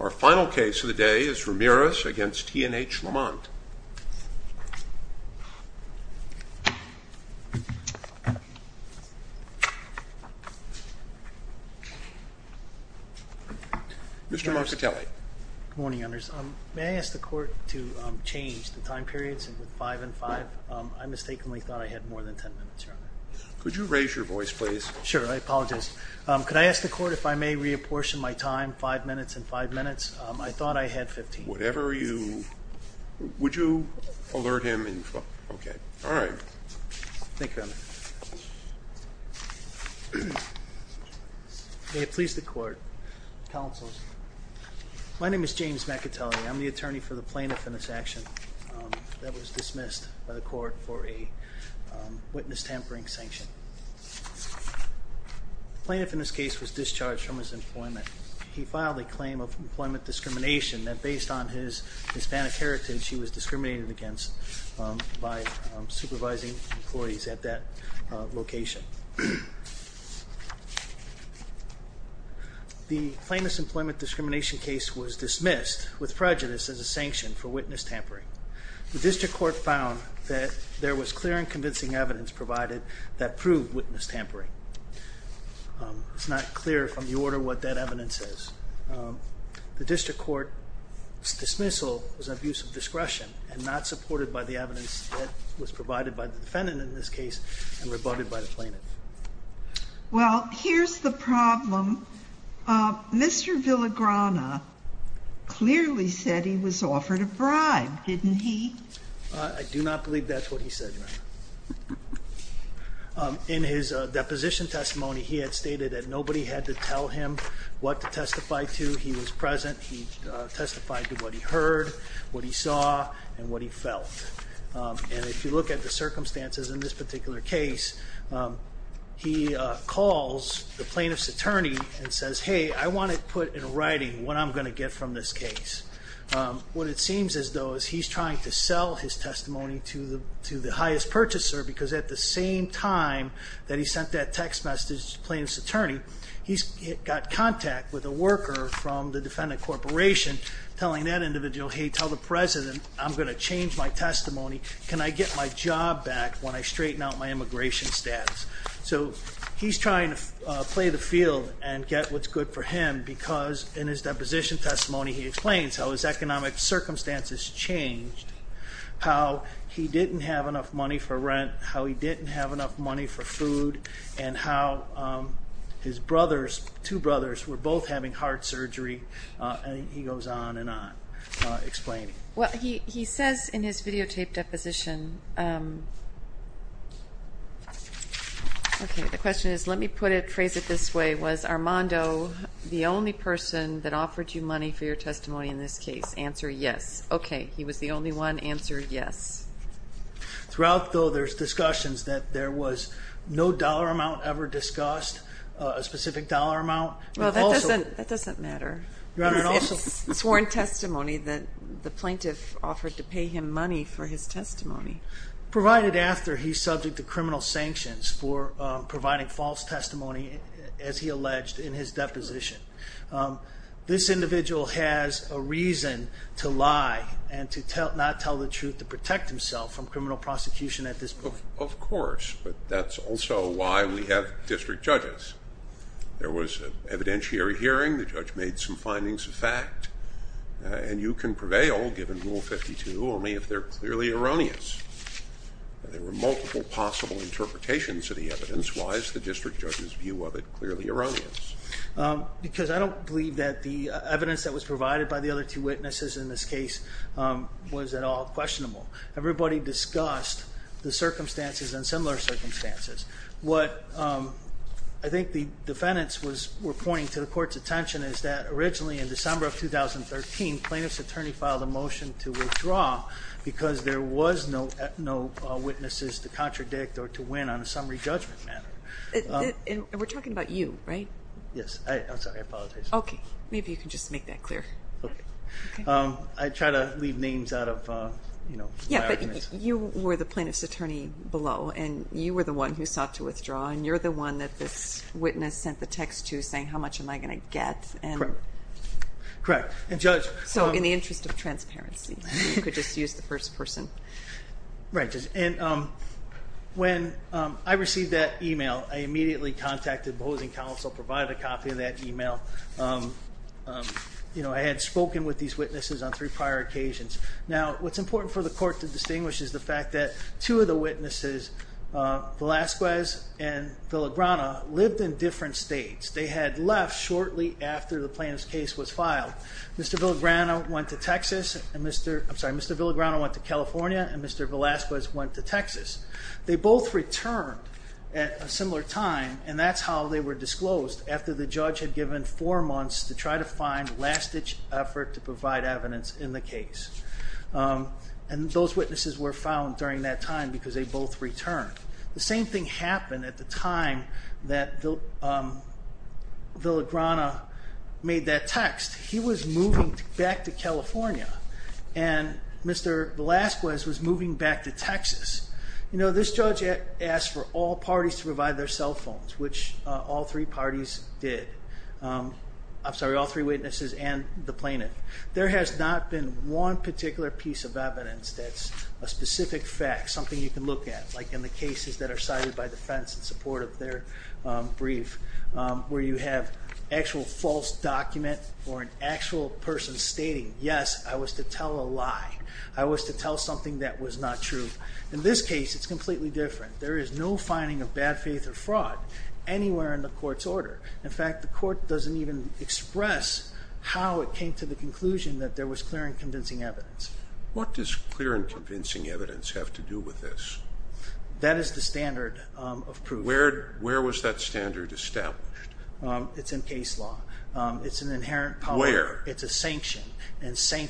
Our final case of the day is Ramirez v. T&H Lemont Mr. Marcatelli Good morning, Your Honors. May I ask the Court to change the time periods to 5 and 5? I mistakenly thought I had more than 10 minutes, Your Honor. Sure, I apologize. Could I ask the Court if I may reapportion my time, 5 minutes and 5 minutes? I thought I had 15. Whatever you...would you alert him and...okay. All right. May it please the Court. Counsel, my name is James Marcatelli. I'm the attorney for the plaintiff in this action that was dismissed by the Court for a witness tampering sanction. The plaintiff in this case was discharged from his employment. He filed a claim of employment discrimination that, based on his Hispanic heritage, he was discriminated against by supervising employees at that location. The plaintiff's employment discrimination case was dismissed with prejudice as a sanction for witness tampering. The District Court found that there was clear and convincing evidence provided that proved witness tampering. It's not clear from the order what that evidence is. The District Court's dismissal was an abuse of discretion and not supported by the evidence that was provided by the defendant in this case and rebutted by the plaintiff. Well, here's the problem. Mr. Villagrana clearly said he was offered a bribe, didn't he? I do not believe that's what he said, Your Honor. In his deposition testimony, he had stated that nobody had to tell him what to testify to. He was present. He testified to what he heard, what he saw, and what he felt. And if you look at the circumstances in this particular case, he calls the plaintiff's attorney and says, hey, I want it put in writing what I'm going to get from this case. What it seems as though is he's trying to sell his testimony to the highest purchaser because at the same time that he sent that text message to the plaintiff's attorney, he's got contact with a worker from the defendant corporation telling that individual, hey, tell the president I'm going to change my testimony. Can I get my job back when I straighten out my immigration status? So he's trying to play the field and get what's good for him because in his deposition testimony, he explains how his economic circumstances changed, how he didn't have enough money for rent, how he didn't have enough money for food, and how his brothers, two brothers, were both having heart surgery. He goes on and on explaining. Well, he says in his videotaped deposition, okay, the question is, let me phrase it this way. Was Armando the only person that offered you money for your testimony in this case? Answer, yes. Okay, he was the only one. Answer, yes. Throughout, though, there's discussions that there was no dollar amount ever discussed, a specific dollar amount. Well, that doesn't matter. He's sworn testimony that the plaintiff offered to pay him money for his testimony. Provided after he's subject to criminal sanctions for providing false testimony, as he alleged in his deposition. This individual has a reason to lie and to not tell the truth to protect himself from criminal prosecution at this point. Of course, but that's also why we have district judges. There was an evidentiary hearing. The judge made some findings of fact, and you can prevail, given Rule 52, only if they're clearly erroneous. There were multiple possible interpretations of the evidence. Why is the district judge's view of it clearly erroneous? Because I don't believe that the evidence that was provided by the other two witnesses in this case was at all questionable. Everybody discussed the circumstances and similar circumstances. What I think the defendants were pointing to the court's attention is that originally in December of 2013, plaintiff's attorney filed a motion to withdraw because there was no witnesses to contradict or to win on a summary judgment matter. And we're talking about you, right? Yes. I'm sorry, I apologize. Okay. Maybe you can just make that clear. Okay. I try to leave names out of, you know, my arguments. You were the plaintiff's attorney below, and you were the one who sought to withdraw, and you're the one that this witness sent the text to saying, how much am I going to get? Correct. Correct. So in the interest of transparency, you could just use the first person. Right. And when I received that e-mail, I immediately contacted the opposing counsel, provided a copy of that e-mail. You know, I had spoken with these witnesses on three prior occasions. Now, what's important for the court to distinguish is the fact that two of the witnesses, Velazquez and Villagrana, lived in different states. They had left shortly after the plaintiff's case was filed. Mr. Villagrana went to Texas and Mr. ‑‑ I'm sorry, Mr. Villagrana went to California and Mr. Velazquez went to Texas. They both returned at a similar time, and that's how they were disclosed, after the judge had given four months to try to find last‑ditch effort to provide evidence in the case. And those witnesses were found during that time because they both returned. The same thing happened at the time that Villagrana made that text. He was moving back to California, and Mr. Velazquez was moving back to Texas. You know, this judge asked for all parties to provide their cell phones, which all three parties did. I'm sorry, all three witnesses and the plaintiff. There has not been one particular piece of evidence that's a specific fact, something you can look at, like in the cases that are cited by defense in support of their brief, where you have actual false document or an actual person stating, yes, I was to tell a lie. I was to tell something that was not true. In this case, it's completely different. There is no finding of bad faith or fraud anywhere in the court's order. In fact, the court doesn't even express how it came to the conclusion that there was clear and convincing evidence. What does clear and convincing evidence have to do with this? That is the standard of proof. Where was that standard established? It's in case law. It's an inherent power. Where? It's a sanction.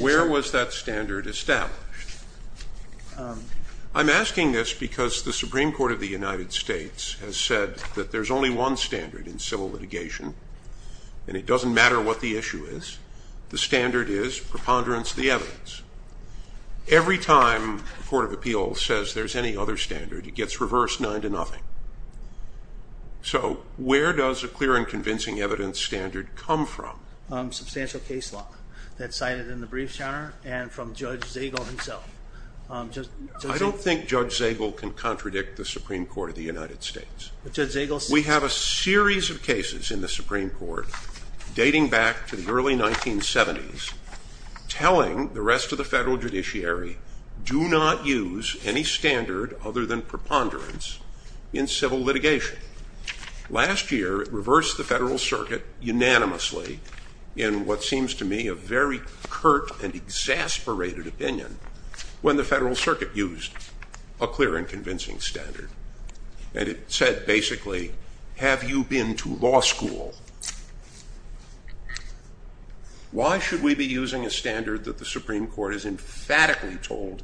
Where was that standard established? I'm asking this because the Supreme Court of the United States has said that there's only one standard in civil litigation, and it doesn't matter what the issue is. The standard is preponderance of the evidence. Every time a court of appeals says there's any other standard, it gets reversed nine to nothing. So where does a clear and convincing evidence standard come from? Substantial case law that's cited in the briefs, Your Honor, and from Judge Zagel himself. I don't think Judge Zagel can contradict the Supreme Court of the United States. But Judge Zagel says. We have a series of cases in the Supreme Court dating back to the early 1970s telling the rest of the federal judiciary, do not use any standard other than preponderance in civil litigation. Last year it reversed the federal circuit unanimously in what seems to me a very curt and exasperated opinion when the federal circuit used a clear and convincing standard. And it said basically, have you been to law school? Why should we be using a standard that the Supreme Court has emphatically told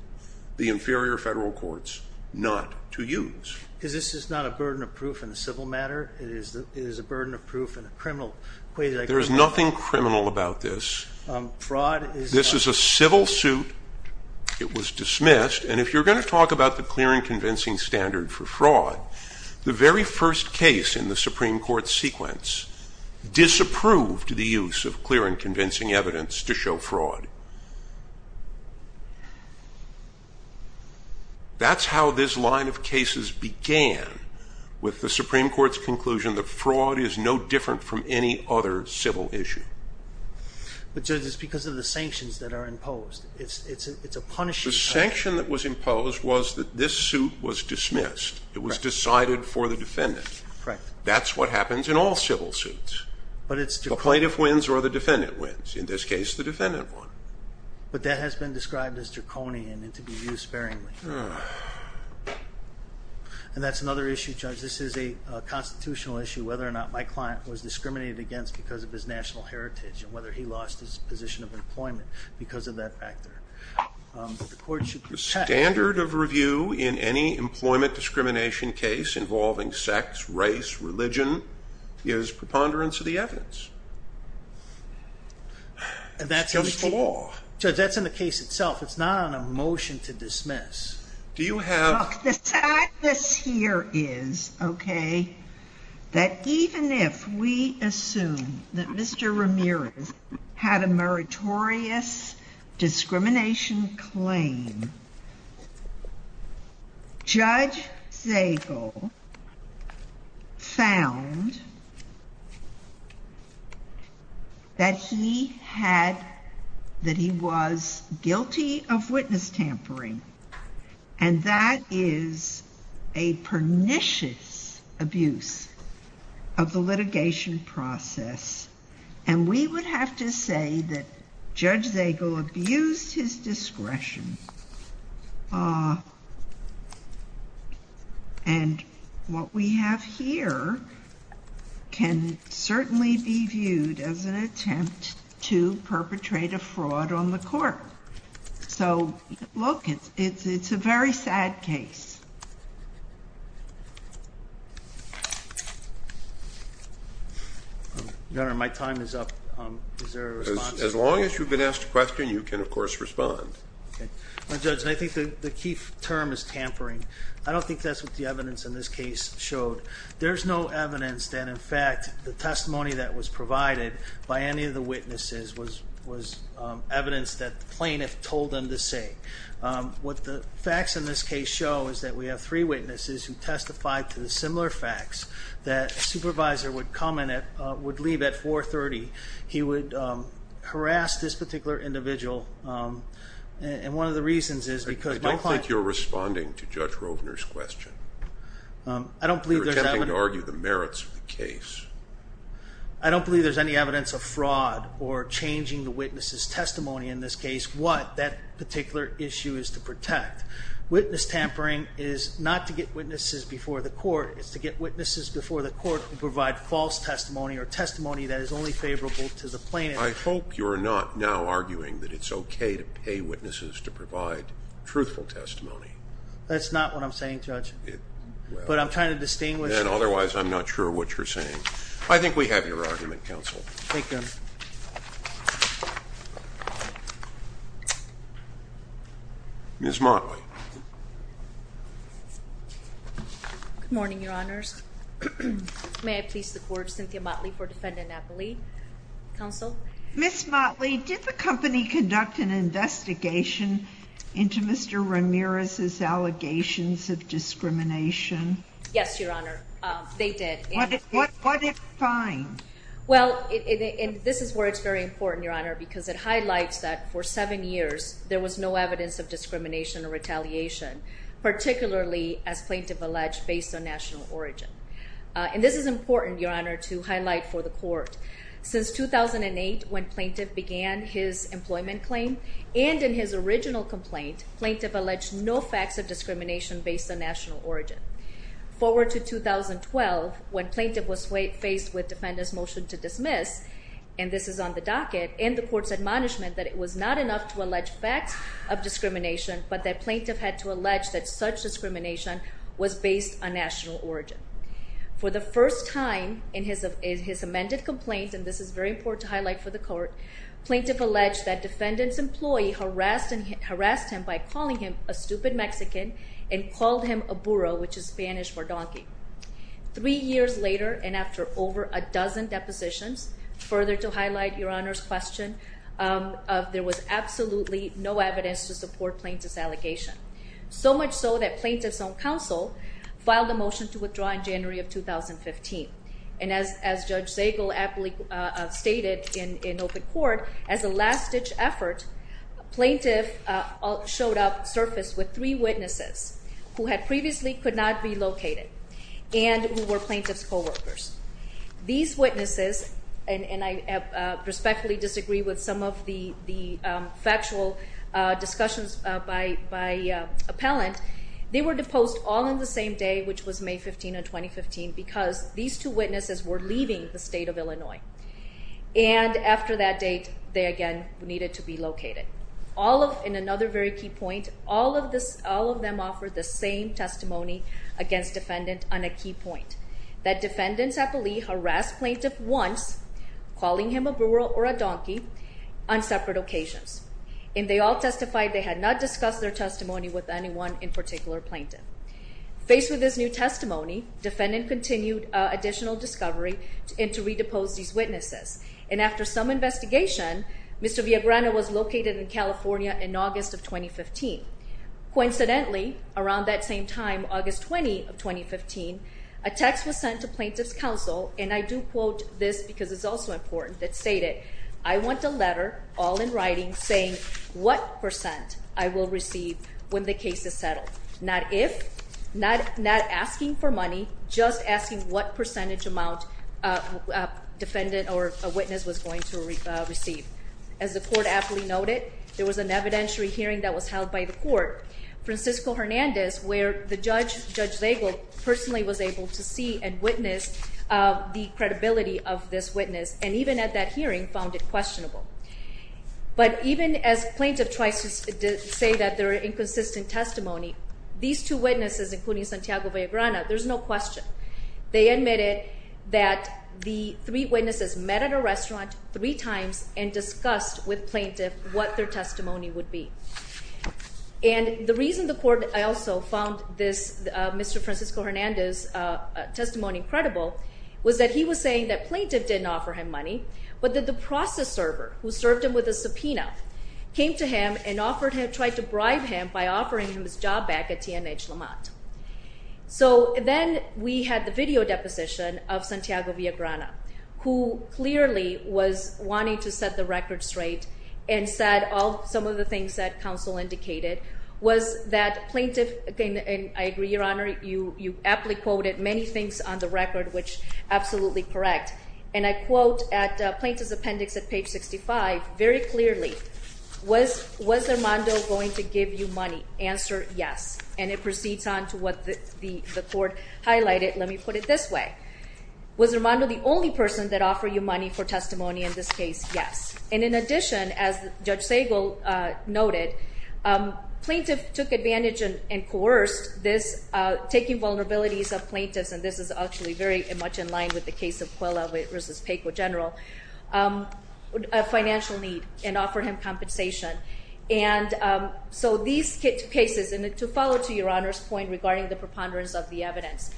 the inferior federal courts not to use? Because this is not a burden of proof in a civil matter. It is a burden of proof in a criminal way. There is nothing criminal about this. Fraud is not. This is a civil suit. It was dismissed. And if you're going to talk about the clear and convincing standard for fraud, the very first case in the Supreme Court's sequence disapproved the use of clear and convincing evidence to show fraud. That's how this line of cases began with the Supreme Court's conclusion that fraud is no different from any other civil issue. But, Judge, it's because of the sanctions that are imposed. It's a punishment. The sanction that was imposed was that this suit was dismissed. It was decided for the defendant. Correct. That's what happens in all civil suits. But it's the plaintiff. The plaintiff wins or the defendant wins. In this case, the defendant won. But that has been described as draconian and to be used sparingly. And that's another issue, Judge. This is a constitutional issue, whether or not my client was discriminated against because of his national heritage and whether he lost his position of employment because of that factor. The standard of review in any employment discrimination case involving sex, race, religion is preponderance of the evidence. And that's just the law. Judge, that's in the case itself. It's not on a motion to dismiss. Do you have... The difference here is, okay, that even if we assume that Mr. Ramirez had a meritorious discrimination claim, Judge Zagel found that he was guilty of witness tampering. And that is a pernicious abuse of the litigation process. And we would have to say that Judge Zagel abused his discretion. And what we have here can certainly be viewed as an attempt to perpetrate a fraud on the court. So, look, it's a very sad case. Your Honor, my time is up. Is there a response? As long as you've been asked a question, you can, of course, respond. Okay. Well, Judge, I think the key term is tampering. I don't think that's what the evidence in this case showed. There's no evidence that, in fact, the testimony that was provided by any of the witnesses was evidence that the plaintiff told them to say. What the facts in this case show is that we have three witnesses who testified to the similar facts that a supervisor would come and would leave at 430. He would harass this particular individual. And one of the reasons is because my client... I don't think you're responding to Judge Rovner's question. You're attempting to argue the merits of the case. I don't believe there's any evidence of fraud or changing the witness's testimony in this case. What that particular issue is to protect. Witness tampering is not to get witnesses before the court. It's to get witnesses before the court to provide false testimony or testimony that is only favorable to the plaintiff. I hope you're not now arguing that it's okay to pay witnesses to provide truthful testimony. That's not what I'm saying, Judge. But I'm trying to distinguish. Otherwise, I'm not sure what you're saying. I think we have your argument, Counsel. Thank you. Ms. Motley. Good morning, Your Honors. May I please support Cynthia Motley for defendant appellee? Counsel? Ms. Motley, did the company conduct an investigation into Mr. Ramirez's allegations of discrimination? Yes, Your Honor. They did. What did they find? Well, this is where it's very important, Your Honor, because it highlights that for seven years, there was no evidence of discrimination or retaliation, particularly, as plaintiff alleged, based on national origin. Since 2008, when plaintiff began his employment claim, and in his original complaint, plaintiff alleged no facts of discrimination based on national origin. Forward to 2012, when plaintiff was faced with defendant's motion to dismiss, and this is on the docket, and the court's admonishment that it was not enough to allege facts of discrimination, but that plaintiff had to allege that such discrimination was based on national origin. For the first time in his amended complaint, and this is very important to highlight for the court, plaintiff alleged that defendant's employee harassed him by calling him a stupid Mexican and called him a burro, which is Spanish for donkey. Three years later, and after over a dozen depositions, further to highlight Your Honor's question, there was absolutely no evidence to support plaintiff's allegation. So much so that plaintiff's own counsel filed a motion to withdraw in January of 2015. And as Judge Zagel aptly stated in open court, as a last-ditch effort, plaintiff showed up, surfaced with three witnesses who had previously could not be located, and who were plaintiff's co-workers. These witnesses, and I respectfully disagree with some of the factual discussions by appellant, they were deposed all on the same day, which was May 15 of 2015, because these two witnesses were leaving the state of Illinois. And after that date, they again needed to be located. In another very key point, all of them offered the same testimony against defendant on a key point, that defendant's appellee harassed plaintiff once, calling him a burro or a donkey, on separate occasions. And they all testified they had not discussed their testimony with anyone in particular plaintiff. Faced with this new testimony, defendant continued additional discovery and to redepose these witnesses. And after some investigation, Mr. Villagrana was located in California in August of 2015. Coincidentally, around that same time, August 20 of 2015, a text was sent to plaintiff's counsel, and I do quote this because it's also important, it's stated, I want a letter, all in writing, saying what percent I will receive when the case is settled. Not if, not asking for money, just asking what percentage amount defendant or a witness was going to receive. As the court appellee noted, there was an evidentiary hearing that was held by the court. Francisco Hernandez, where the judge, Judge Zagel, personally was able to see and witness the credibility of this witness, and even at that hearing, found it questionable. But even as plaintiff tries to say that they're inconsistent testimony, these two witnesses, including Santiago Villagrana, there's no question. They admitted that the three witnesses met at a restaurant three times and discussed with plaintiff what their testimony would be. And the reason the court also found this Mr. Francisco Hernandez testimony credible was that he was saying that plaintiff didn't offer him money, but that the process server, who served him with a subpoena, came to him and tried to bribe him by offering him his job back at TNH Lamont. So then we had the video deposition of Santiago Villagrana, who clearly was wanting to set the record straight and said some of the things that counsel indicated, was that plaintiff, and I agree, Your Honor, you aptly quoted many things on the record which are absolutely correct. And I quote at Plaintiff's Appendix at page 65, very clearly, was Armando going to give you money? Answer, yes. And it proceeds on to what the court highlighted. Let me put it this way. Was Armando the only person that offered you money for testimony in this case? Yes. And in addition, as Judge Segal noted, plaintiff took advantage and coerced this taking vulnerabilities of plaintiffs, and this is actually very much in line with the case of Cuella v. Peco General, a financial need, and offered him compensation. And so these cases, and to follow to Your Honor's point regarding the preponderance of the evidence,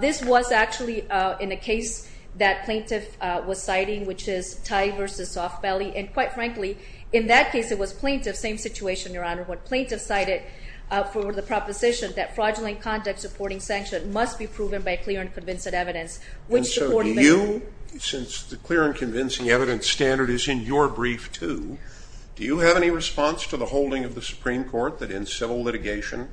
this was actually in a case that plaintiff was citing, which is Tai v. SoftBelly, and quite frankly, in that case it was plaintiff, same situation, Your Honor, when plaintiff cited for the proposition that fraudulent conduct supporting sanction must be proven by clear and convincing evidence, which the court made. And so do you, since the clear and convincing evidence standard is in your brief too, do you have any response to the holding of the Supreme Court that in civil litigation,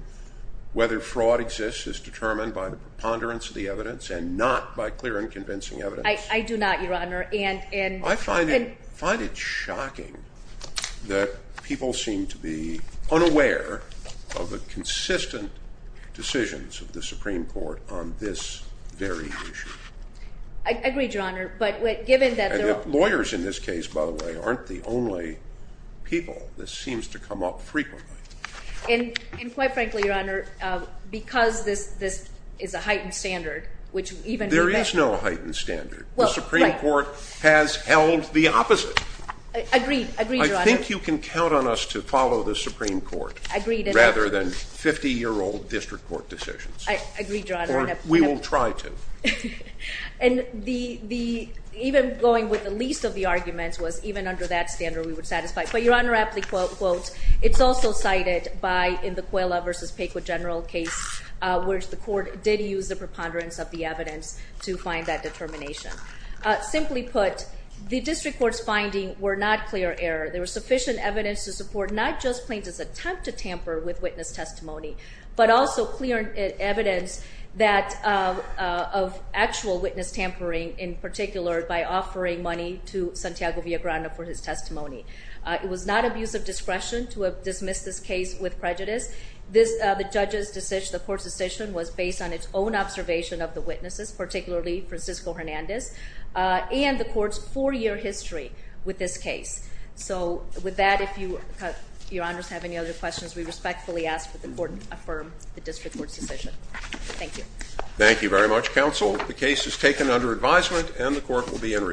whether fraud exists is determined by the preponderance of the evidence and not by clear and convincing evidence? I do not, Your Honor. I find it shocking that people seem to be unaware of the consistent decisions of the Supreme Court on this very issue. I agree, Your Honor. Lawyers in this case, by the way, aren't the only people. This seems to come up frequently. And quite frankly, Your Honor, because this is a heightened standard, There is no heightened standard. The Supreme Court has held the opposite. Agreed, Your Honor. I think you can count on us to follow the Supreme Court rather than 50-year-old district court decisions. Agreed, Your Honor. Or we will try to. And even going with the least of the arguments was even under that standard we would satisfy. But Your Honor, I have to quote, quote, it's also cited by in the Cuella v. Pequa general case, where the court did use the preponderance of the evidence to find that determination. Simply put, the district court's findings were not clear error. There was sufficient evidence to support not just plaintiff's attempt to tamper with witness testimony, but also clear evidence of actual witness tampering in particular by offering money to Santiago Villagrana for his testimony. It was not abuse of discretion to dismiss this case with prejudice. The court's decision was based on its own observation of the witnesses, particularly Francisco Hernandez, and the court's four-year history with this case. So with that, if Your Honors have any other questions, we respectfully ask that the court affirm the district court's decision. Thank you. Thank you very much, Counsel. The case is taken under advisement and the court will be in recess.